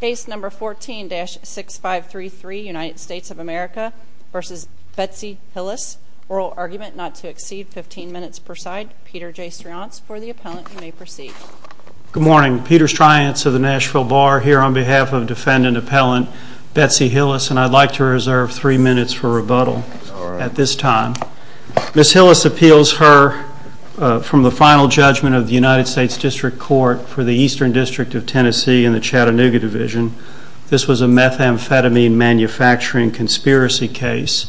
Case No. 14-6533, United States of America v. Betsy Hillis, oral argument not to exceed 15 minutes per side. Peter J. Strians, for the appellant, you may proceed. Good morning. Peter Strians of the Nashville Bar here on behalf of defendant appellant Betsy Hillis, and I'd like to reserve three minutes for rebuttal at this time. Ms. Hillis appeals her from the final judgment of the United States District Court for the Eastern District of Tennessee in the Chattanooga Division. This was a methamphetamine manufacturing conspiracy case.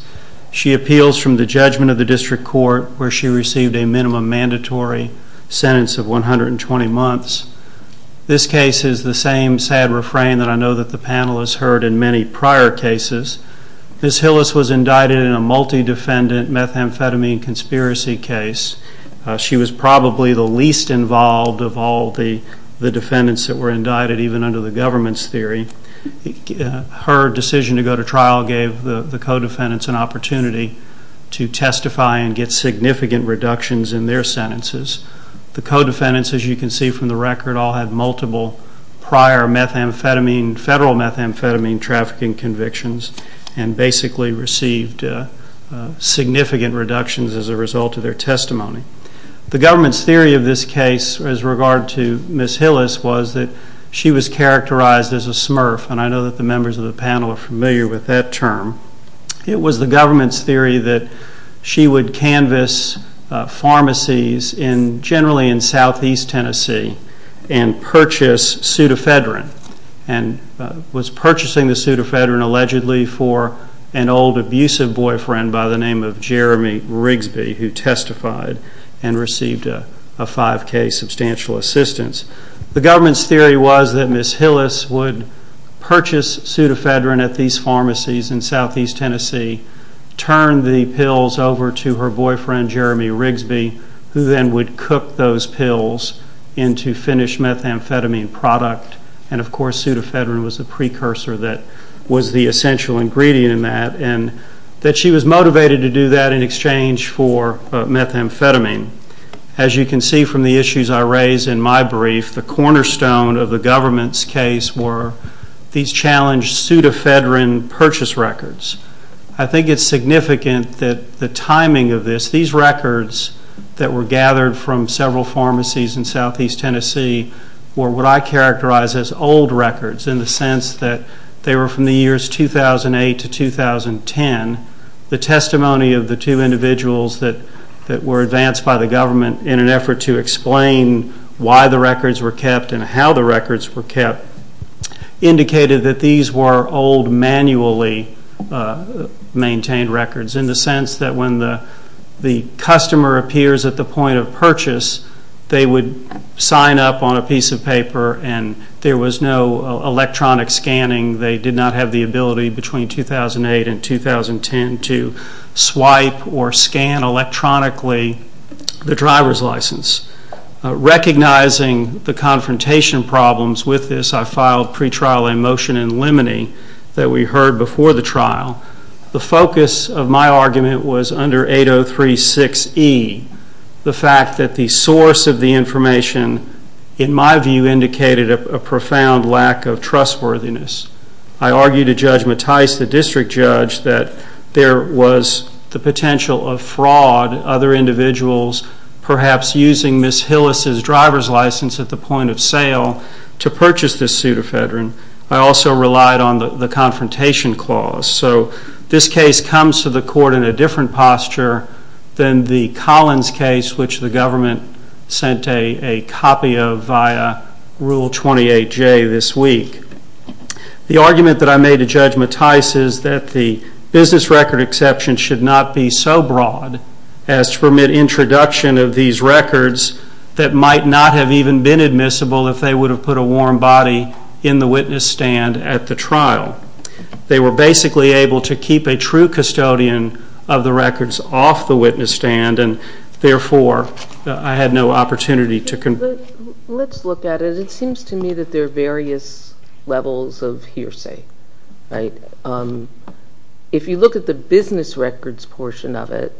She appeals from the judgment of the District Court where she received a minimum mandatory sentence of 120 months. This case is the same sad refrain that I know that the panel has heard in many prior cases. Ms. Hillis was indicted in a multi-defendant methamphetamine conspiracy case. She was probably the least involved of all the defendants that were indicted, even under the government's theory. Her decision to go to trial gave the co-defendants an opportunity to testify and get significant reductions in their sentences. The co-defendants, as you can see from the record, all had multiple prior federal methamphetamine trafficking convictions and basically received significant reductions as a result of their testimony. The government's theory of this case as regard to Ms. Hillis was that she was characterized as a smurf, and I know that the members of the panel are familiar with that term. It was the government's theory that she would canvass pharmacies generally in southeast Tennessee and purchase pseudofedrin and was purchasing the pseudofedrin allegedly for an old abusive boyfriend by the name of Jeremy Rigsby, who testified and received a 5K substantial assistance. The government's theory was that Ms. Hillis would purchase pseudofedrin at these pharmacies in southeast Tennessee, turn the pills over to her boyfriend, Jeremy Rigsby, who then would cook those pills into finished methamphetamine product, and of course pseudofedrin was the precursor that was the essential ingredient in that, and that she was motivated to do that in exchange for methamphetamine. As you can see from the issues I raise in my brief, the cornerstone of the government's case were these challenged pseudofedrin purchase records. I think it's significant that the timing of this, these records that were gathered from several pharmacies in southeast Tennessee were what I characterize as old records in the sense that they were from the years 2008 to 2010. The testimony of the two individuals that were advanced by the government in an effort to explain why the records were kept and how the records were kept indicated that these were old manually maintained records in the sense that when the customer appears at the point of purchase, they would sign up on a piece of paper and there was no electronic scanning. They did not have the ability between 2008 and 2010 to swipe or scan electronically the driver's license. Recognizing the confrontation problems with this, I filed pretrial a motion in limine that we heard before the trial. The focus of my argument was under 8036E, the fact that the source of the information in my view indicated a profound lack of trustworthiness. I argued to Judge Mattheis, the district judge, that there was the potential of fraud, other individuals perhaps using Ms. Hillis' driver's license at the point of sale to purchase this pseudofedrin. I also relied on the confrontation clause. So this case comes to the court in a different posture than the Collins case, which the government sent a copy of via Rule 28J this week. The argument that I made to Judge Mattheis is that the business record exception should not be so broad as to permit introduction of these records that might not have even been admissible if they would have put a warm body in the witness stand at the trial. They were basically able to keep a true custodian of the records off the witness stand and therefore I had no opportunity to convict. Let's look at it. It seems to me that there are various levels of hearsay, right? If you look at the business records portion of it,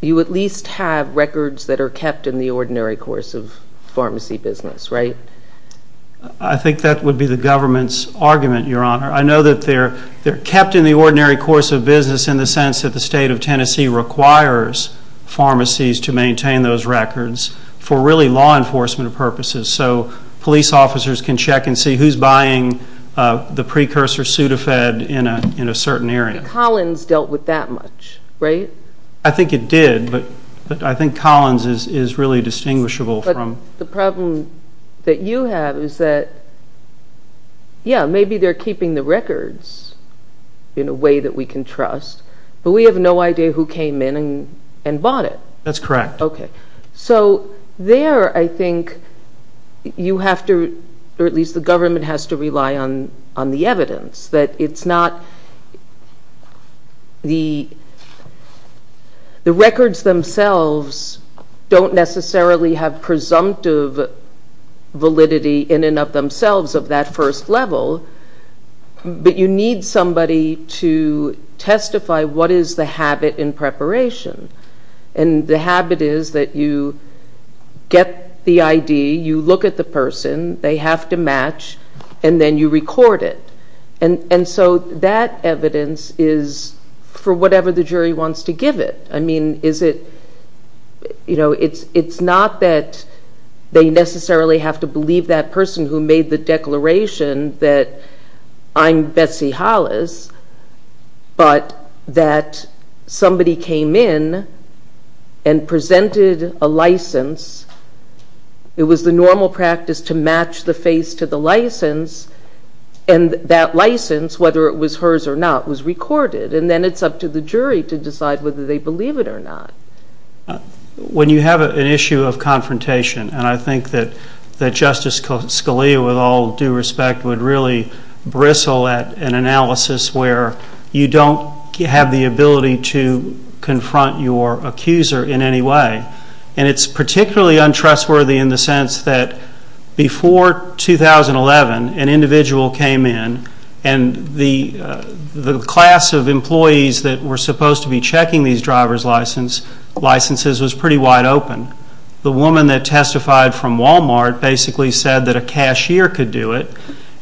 you at least have records that are kept in the ordinary course of pharmacy business, right? I think that would be the government's argument, Your Honor. I know that they're kept in the ordinary course of business in the sense that the state of Tennessee requires pharmacies to maintain those records for really law enforcement purposes so police officers can check and see who's buying the precursor pseudofedrin in a certain area. Collins dealt with that much, right? I think it did, but I think Collins is really distinguishable from the problem that you have is that, yeah, maybe they're keeping the records in a way that we can trust, but we have no idea who came in and bought it. That's correct. Okay. So there I think you have to, or at least the government has to rely on the evidence, that it's not, the records themselves don't necessarily have presumptive validity in and of themselves of that first level, but you need somebody to testify what is the habit in preparation, and the habit is that you get the ID, you look at the person, they have to match, and then you record it. And so that evidence is for whatever the jury wants to give it. I mean, is it, you know, it's not that they necessarily have to believe that person who made the declaration that I'm Betsy Hollis, but that somebody came in and presented a license, it was the normal practice to match the face to the license, and that license, whether it was hers or not, was recorded, and then it's up to the jury to decide whether they believe it or not. When you have an issue of confrontation, and I think that Justice Scalia, with all due respect, would really bristle at an analysis where you don't have the ability to confront your accuser in any way, and it's particularly untrustworthy in the sense that before 2011 an individual came in and the class of employees that were supposed to be checking these driver's licenses was pretty wide open. The woman that testified from Walmart basically said that a cashier could do it,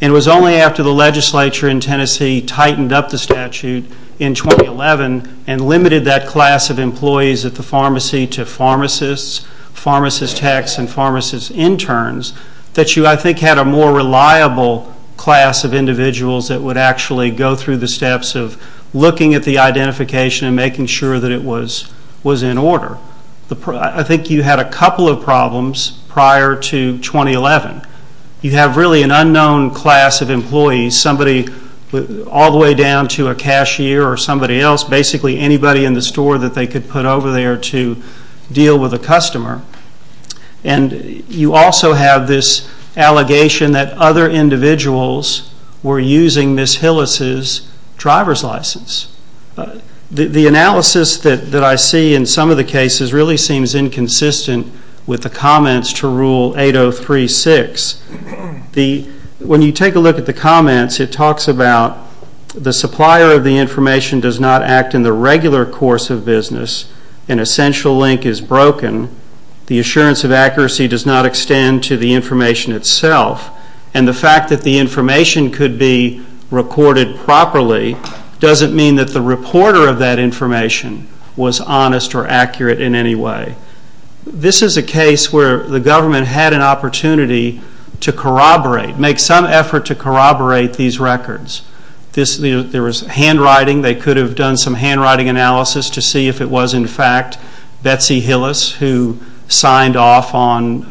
and it was only after the legislature in Tennessee tightened up the statute in 2011 and limited that class of employees at the pharmacy to pharmacists, pharmacist techs, and pharmacist interns, that you, I think, had a more reliable class of individuals that would actually go through the steps of looking at the identification and making sure that it was in order. I think you had a couple of problems prior to 2011. You have really an unknown class of employees, somebody all the way down to a cashier or somebody else, basically anybody in the store that they could put over there to deal with a customer, and you also have this allegation that other individuals were using Ms. Hillis's driver's license. The analysis that I see in some of the cases really seems inconsistent with the comments to Rule 803-6. When you take a look at the comments, it talks about the supplier of the information does not act in the regular course of business, an essential link is broken, the assurance of accuracy does not extend to the information itself, and the fact that the information could be recorded properly doesn't mean that the reporter of that information was honest or accurate in any way. This is a case where the government had an opportunity to corroborate, make some effort to corroborate these records. There was handwriting. They could have done some handwriting analysis to see if it was in fact Betsy Hillis who signed off on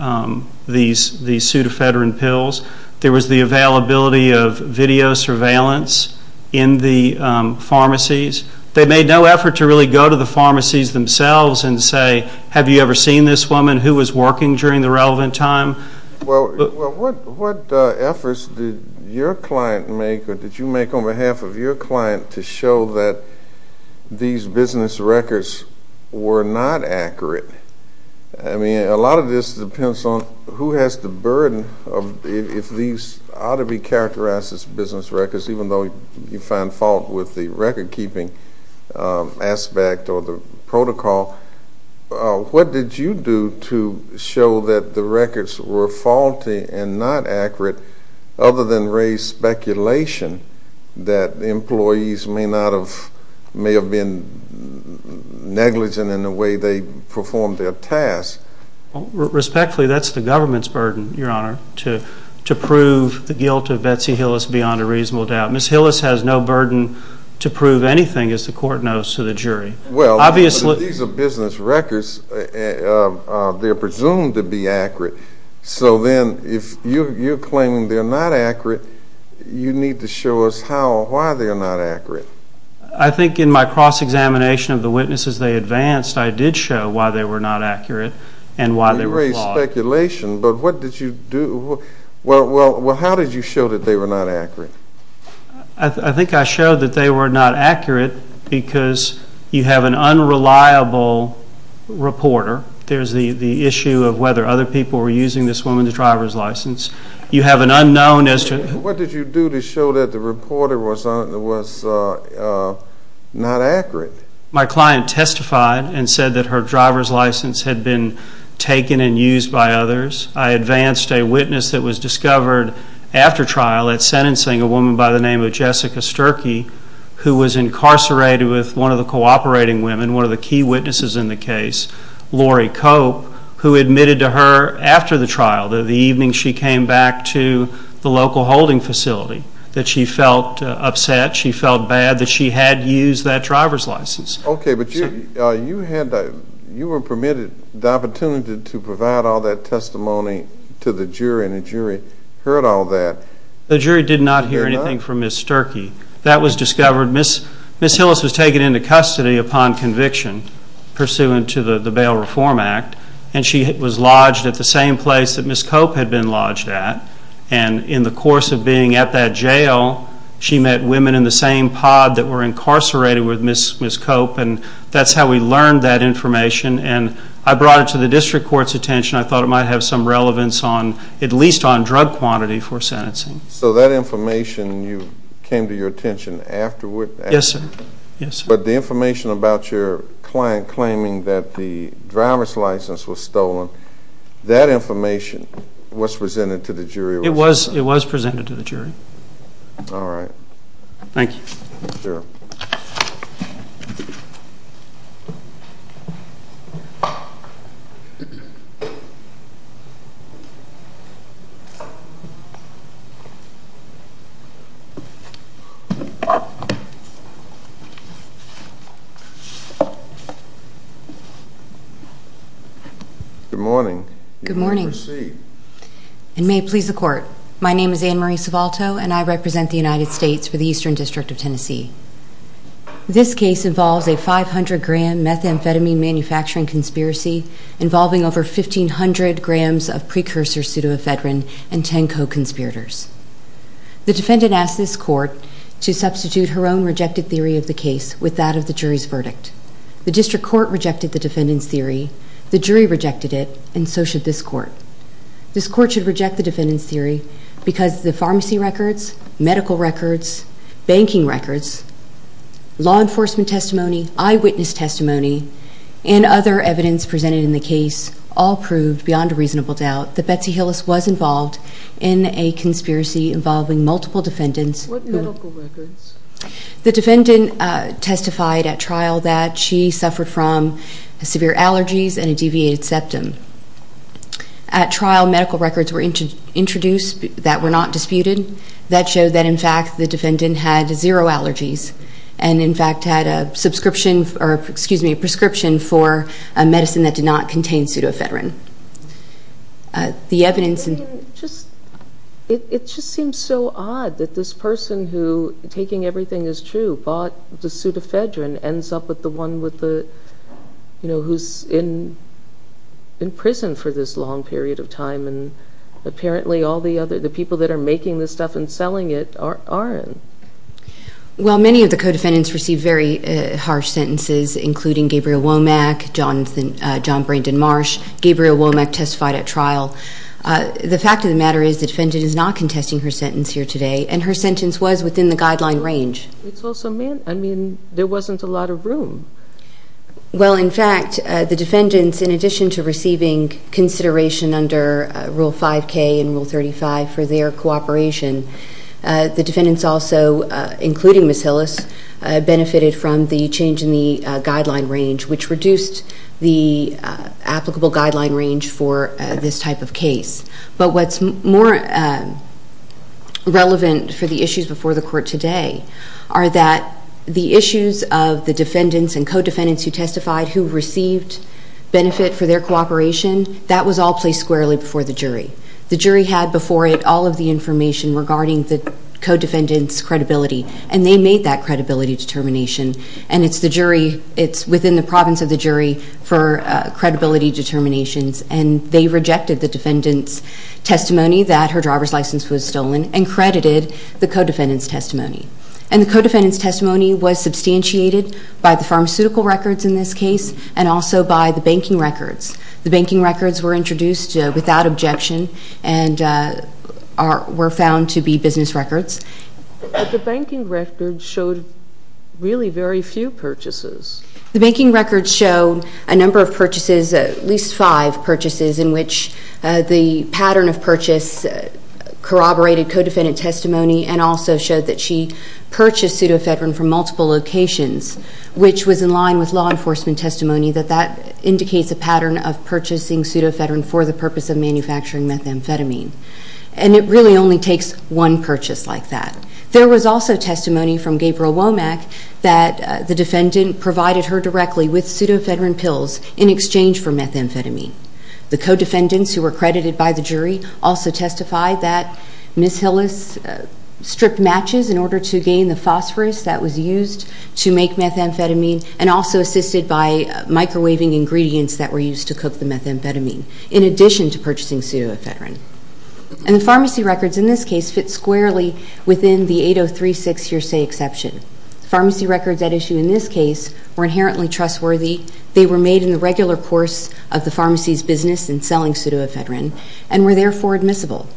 these pseudofedrin pills. There was the availability of video surveillance in the pharmacies. They made no effort to really go to the pharmacies themselves and say, have you ever seen this woman who was working during the relevant time? Well, what efforts did your client make or did you make on behalf of your client to show that these business records were not accurate? I mean, a lot of this depends on who has the burden of if these ought to be characterized as business records, even though you find fault with the recordkeeping aspect or the protocol. What did you do to show that the records were faulty and not accurate other than raise speculation that employees may have been negligent in the way they performed their tasks? Respectfully, that's the government's burden, Your Honor, to prove the guilt of Betsy Hillis beyond a reasonable doubt. Ms. Hillis has no burden to prove anything, as the court knows, to the jury. Well, these are business records. They're presumed to be accurate. So then if you're claiming they're not accurate, you need to show us how or why they are not accurate. I think in my cross-examination of the witnesses they advanced, but what did you do? Well, how did you show that they were not accurate? I think I showed that they were not accurate because you have an unreliable reporter. There's the issue of whether other people were using this woman's driver's license. You have an unknown as to who. What did you do to show that the reporter was not accurate? My client testified and said that her driver's license had been taken and used by others. I advanced a witness that was discovered after trial at sentencing a woman by the name of Jessica Sturkey, who was incarcerated with one of the cooperating women, one of the key witnesses in the case, Lori Cope, who admitted to her after the trial, the evening she came back to the local holding facility, that she felt upset, she felt bad that she had used that driver's license. Okay, but you were permitted the opportunity to provide all that testimony to the jury, and the jury heard all that. The jury did not hear anything from Ms. Sturkey. That was discovered. Ms. Hillis was taken into custody upon conviction pursuant to the Bail Reform Act, and she was lodged at the same place that Ms. Cope had been lodged at, and in the course of being at that jail, she met women in the same pod that were incarcerated with Ms. Cope, and that's how we learned that information, and I brought it to the district court's attention. I thought it might have some relevance, at least on drug quantity, for sentencing. So that information came to your attention afterwards? Yes, sir. But the information about your client claiming that the driver's license was stolen, that information was presented to the jury? It was presented to the jury. All right. Thank you. Sure. Thank you. Good morning. Good morning. You may proceed. And may it please the Court, my name is Ann Marie Sivalto, and I represent the United States for the Eastern District of Tennessee. This case involves a 500-gram methamphetamine manufacturing conspiracy involving over 1,500 grams of precursor pseudoephedrine and 10 co-conspirators. The defendant asked this court to substitute her own rejected theory of the case with that of the jury's verdict. The district court rejected the defendant's theory, the jury rejected it, and so should this court. This court should reject the defendant's theory because the pharmacy records, medical records, banking records, law enforcement testimony, eyewitness testimony, and other evidence presented in the case all proved, beyond a reasonable doubt, that Betsy Hillis was involved in a conspiracy involving multiple defendants. What medical records? The defendant testified at trial that she suffered from severe allergies and a deviated septum. At trial, medical records were introduced that were not disputed. That showed that, in fact, the defendant had zero allergies and, in fact, had a prescription for a medicine that did not contain pseudoephedrine. It just seems so odd that this person who, taking everything as true, bought the pseudoephedrine ends up with the one who's in prison for this long period of time and apparently all the people that are making this stuff and selling it aren't. Well, many of the co-defendants received very harsh sentences, including Gabriel Womack, John Brandon Marsh. Gabriel Womack testified at trial. The fact of the matter is the defendant is not contesting her sentence here today, and her sentence was within the guideline range. I mean, there wasn't a lot of room. Well, in fact, the defendants, in addition to receiving consideration under Rule 5K and Rule 35 for their cooperation, the defendants also, including Ms. Hillis, benefited from the change in the guideline range, which reduced the applicable guideline range for this type of case. But what's more relevant for the issues before the court today are that the issues of the defendants and co-defendants who testified who received benefit for their cooperation, that was all placed squarely before the jury. The jury had before it all of the information regarding the co-defendant's credibility, and they made that credibility determination, and it's within the province of the jury for credibility determinations, and they rejected the defendant's testimony that her driver's license was stolen and credited the co-defendant's testimony. And the co-defendant's testimony was substantiated by the pharmaceutical records in this case and also by the banking records. The banking records were introduced without objection and were found to be business records. But the banking records showed really very few purchases. The banking records show a number of purchases, at least five purchases, in which the pattern of purchase corroborated co-defendant testimony and also showed that she purchased pseudofedrin from multiple locations, which was in line with law enforcement testimony that that indicates a pattern of purchasing pseudofedrin for the purpose of manufacturing methamphetamine. And it really only takes one purchase like that. There was also testimony from Gabriel Womack that the defendant provided her directly with pseudofedrin pills in exchange for methamphetamine. The co-defendants, who were credited by the jury, also testified that Ms. Hillis stripped matches in order to gain the phosphorus that was used to make methamphetamine and also assisted by microwaving ingredients that were used to cook the methamphetamine in addition to purchasing pseudofedrin. And the pharmacy records in this case fit squarely within the 8036 hearsay exception. Pharmacy records at issue in this case were inherently trustworthy. They were made in the regular course of the pharmacy's business in selling pseudofedrin and were therefore admissible.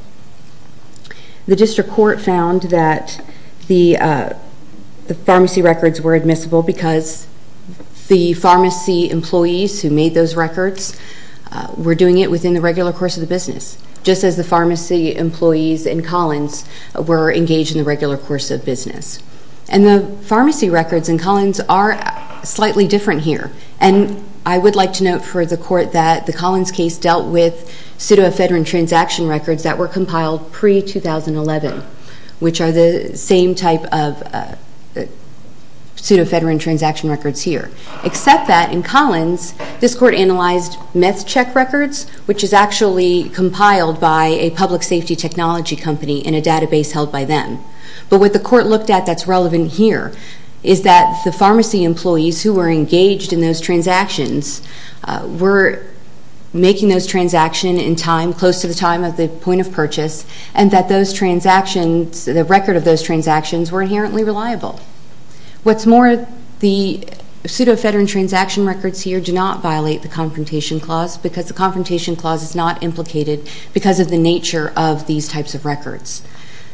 The district court found that the pharmacy records were admissible because the pharmacy employees who made those records were doing it within the regular course of the business, just as the pharmacy employees in Collins were engaged in the regular course of business. And the pharmacy records in Collins are slightly different here. And I would like to note for the court that the Collins case dealt with pseudofedrin transaction records that were compiled pre-2011, which are the same type of pseudofedrin transaction records here, except that in Collins this court analyzed meth check records, which is actually compiled by a public safety technology company in a database held by them. But what the court looked at that's relevant here is that the pharmacy employees who were engaged in those transactions were making those transactions in time, close to the time of the point of purchase, and that the record of those transactions were inherently reliable. What's more, the pseudofedrin transaction records here do not violate the Confrontation Clause because the Confrontation Clause is not implicated because of the nature of these types of records.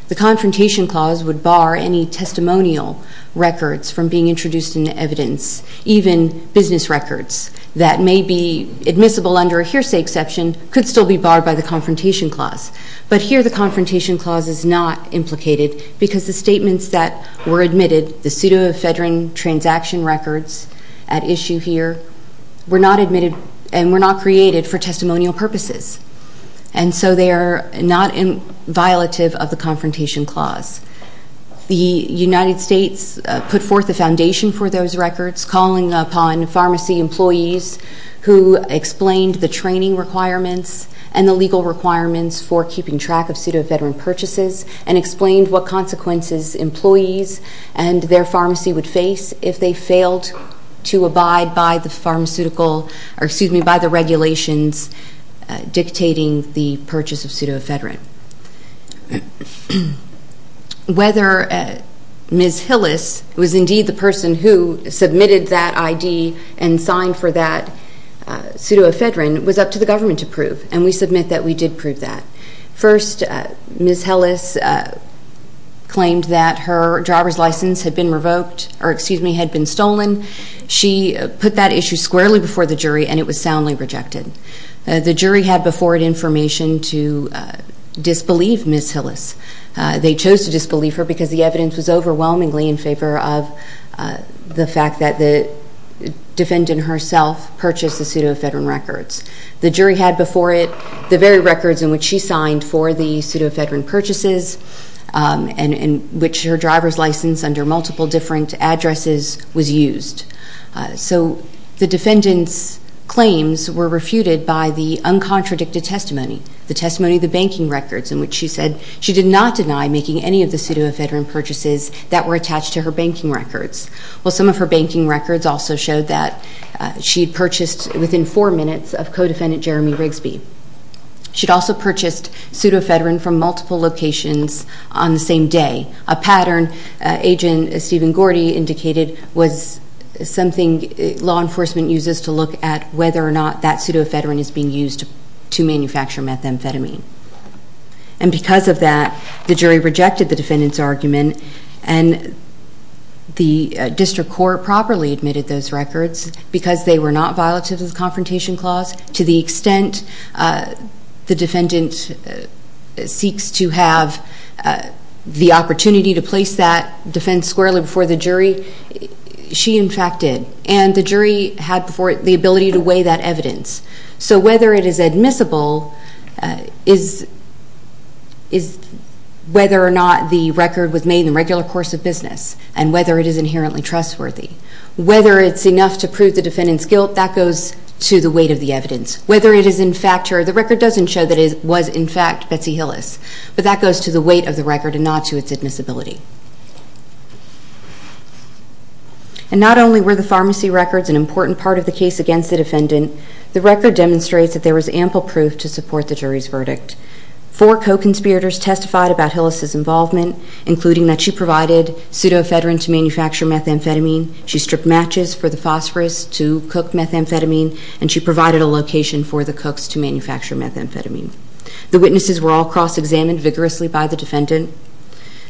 The Confrontation Clause would bar any testimonial records from being introduced into evidence, even business records that may be admissible under a hearsay exception could still be barred by the Confrontation Clause. But here the Confrontation Clause is not implicated because the statements that were admitted, the pseudofedrin transaction records at issue here, were not admitted and were not created for testimonial purposes. And so they are not violative of the Confrontation Clause. The United States put forth a foundation for those records calling upon pharmacy employees who explained the training requirements and the legal requirements for keeping track of pseudofedrin purchases and explained what consequences employees and their pharmacy would face if they failed to abide by the regulations dictating the purchase of pseudofedrin. Whether Ms. Hillis was indeed the person who submitted that ID and signed for that pseudofedrin was up to the government to prove, and we submit that we did prove that. First, Ms. Hillis claimed that her driver's license had been revoked, or excuse me, had been stolen. She put that issue squarely before the jury and it was soundly rejected. The jury had before it information to disbelieve Ms. Hillis. They chose to disbelieve her because the evidence was overwhelmingly in favor of the fact that the defendant herself purchased the pseudofedrin records. The jury had before it the very records in which she signed for the pseudofedrin purchases and in which her driver's license under multiple different addresses was used. So the defendant's claims were refuted by the uncontradicted testimony, the testimony of the banking records in which she said she did not deny making any of the pseudofedrin purchases that were attached to her banking records. Well, some of her banking records also showed that she had purchased, within four minutes, of co-defendant Jeremy Rigsby. She had also purchased pseudofedrin from multiple locations on the same day, a pattern Agent Stephen Gordy indicated was something law enforcement uses to look at whether or not that pseudofedrin is being used to manufacture methamphetamine. And because of that, the jury rejected the defendant's argument and the district court properly admitted those records because they were not violative of the Confrontation Clause. To the extent the defendant seeks to have the opportunity to place that defense squarely before the jury, she, in fact, did. And the jury had before it the ability to weigh that evidence. So whether it is admissible is whether or not the record was made in the regular course of business and whether it is inherently trustworthy. Whether it's enough to prove the defendant's guilt, that goes to the weight of the evidence. Whether it is in fact true, the record doesn't show that it was in fact Betsy Hillis, but that goes to the weight of the record and not to its admissibility. And not only were the pharmacy records an important part of the case against the defendant, the record demonstrates that there was ample proof to support the jury's verdict. Four co-conspirators testified about Hillis' involvement, including that she provided pseudofedrin to manufacture methamphetamine, she stripped matches for the phosphorus to cook methamphetamine, and she provided a location for the cooks to manufacture methamphetamine. The witnesses were all cross-examined vigorously by the defendant.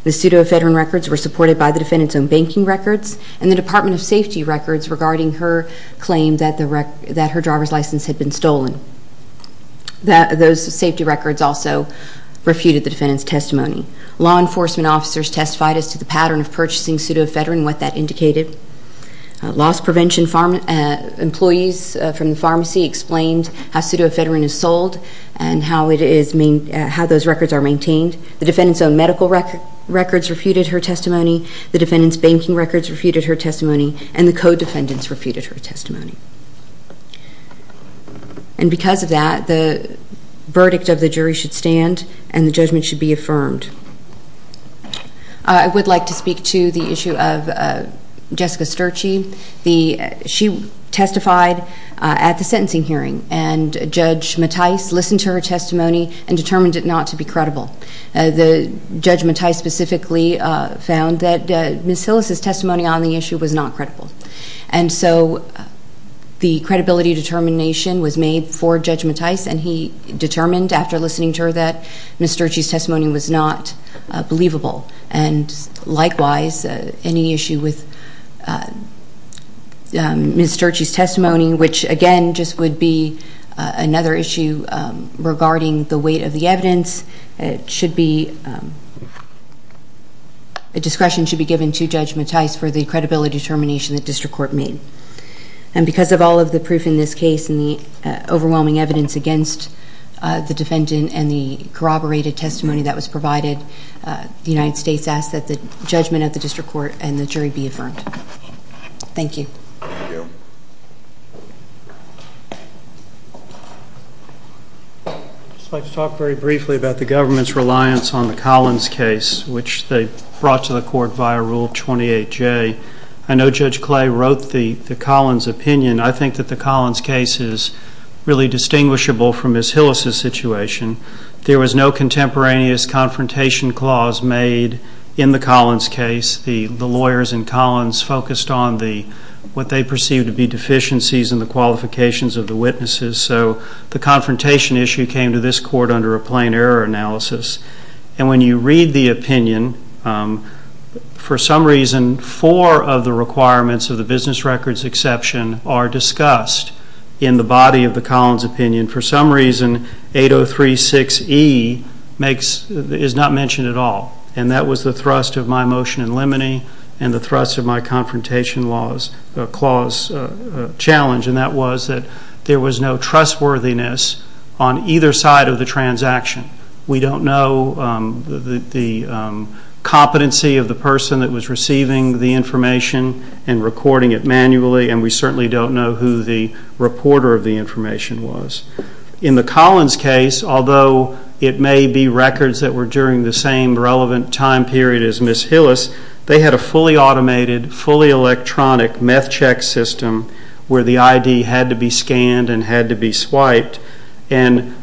The pseudofedrin records were supported by the defendant's own banking records and the Department of Safety records regarding her claim that her driver's license had been stolen. Those safety records also refuted the defendant's testimony. Law enforcement officers testified as to the pattern of purchasing pseudofedrin and what that indicated. Loss prevention employees from the pharmacy explained how pseudofedrin is sold and how those records are maintained. The defendant's own medical records refuted her testimony. The defendant's banking records refuted her testimony, and the co-defendants refuted her testimony. And because of that, the verdict of the jury should stand and the judgment should be affirmed. I would like to speak to the issue of Jessica Sturgey. She testified at the sentencing hearing, and Judge Mattis listened to her testimony and determined it not to be credible. Judge Mattis specifically found that Ms. Hillis' testimony on the issue was not credible. And so the credibility determination was made for Judge Mattis, and he determined after listening to her that Ms. Sturgey's testimony was not believable. And likewise, any issue with Ms. Sturgey's testimony, which again just would be another issue regarding the weight of the evidence, discretion should be given to Judge Mattis for the credibility determination the district court made. And because of all of the proof in this case and the overwhelming evidence against the defendant and the corroborated testimony that was provided, the United States asks that the judgment of the district court and the jury be affirmed. Thank you. I'd just like to talk very briefly about the government's reliance on the Collins case, which they brought to the court via Rule 28J. I know Judge Clay wrote the Collins opinion. I think that the Collins case is really distinguishable from Ms. Hillis' situation. There was no contemporaneous confrontation clause made in the Collins case. The lawyers in Collins focused on what they perceived to be deficiencies in the qualifications of the witnesses, so the confrontation issue came to this court under a plain error analysis. And when you read the opinion, for some reason, four of the requirements of the business records exception are discussed in the body of the Collins opinion. For some reason, 8036E is not mentioned at all, and that was the thrust of my motion in limine and the thrust of my confrontation clause challenge, and that was that there was no trustworthiness on either side of the transaction. We don't know the competency of the person that was receiving the information and recording it manually, and we certainly don't know who the reporter of the information was. In the Collins case, although it may be records that were during the same relevant time period as Ms. Hillis, they had a fully automated, fully electronic meth check system where the ID had to be scanned and had to be swiped. And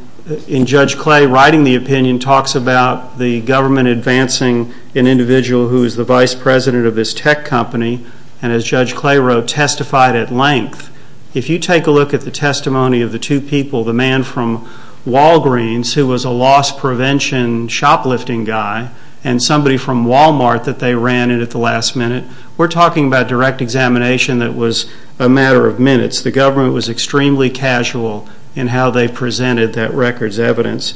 in Judge Clay writing the opinion talks about the government advancing an individual who is the vice president of this tech company and, as Judge Clay wrote, testified at length. If you take a look at the testimony of the two people, the man from Walgreens who was a loss prevention shoplifting guy and somebody from Walmart that they ran in at the last minute, we're talking about direct examination that was a matter of minutes. The government was extremely casual in how they presented that records evidence.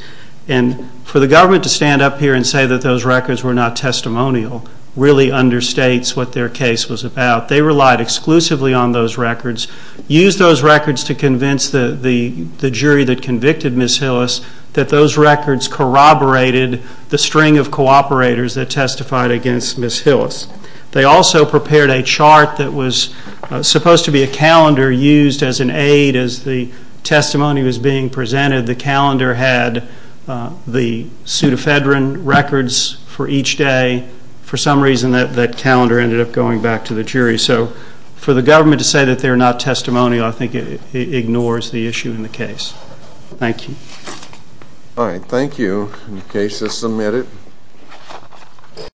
And for the government to stand up here and say that those records were not testimonial really understates what their case was about. They relied exclusively on those records, used those records to convince the jury that convicted Ms. Hillis that those records corroborated the string of cooperators that testified against Ms. Hillis. They also prepared a chart that was supposed to be a calendar used as an aid as the testimony was being presented. The calendar had the pseudofedron records for each day. And for some reason that calendar ended up going back to the jury. So for the government to say that they're not testimonial, I think it ignores the issue in the case. Thank you. All right. Thank you. The case is submitted.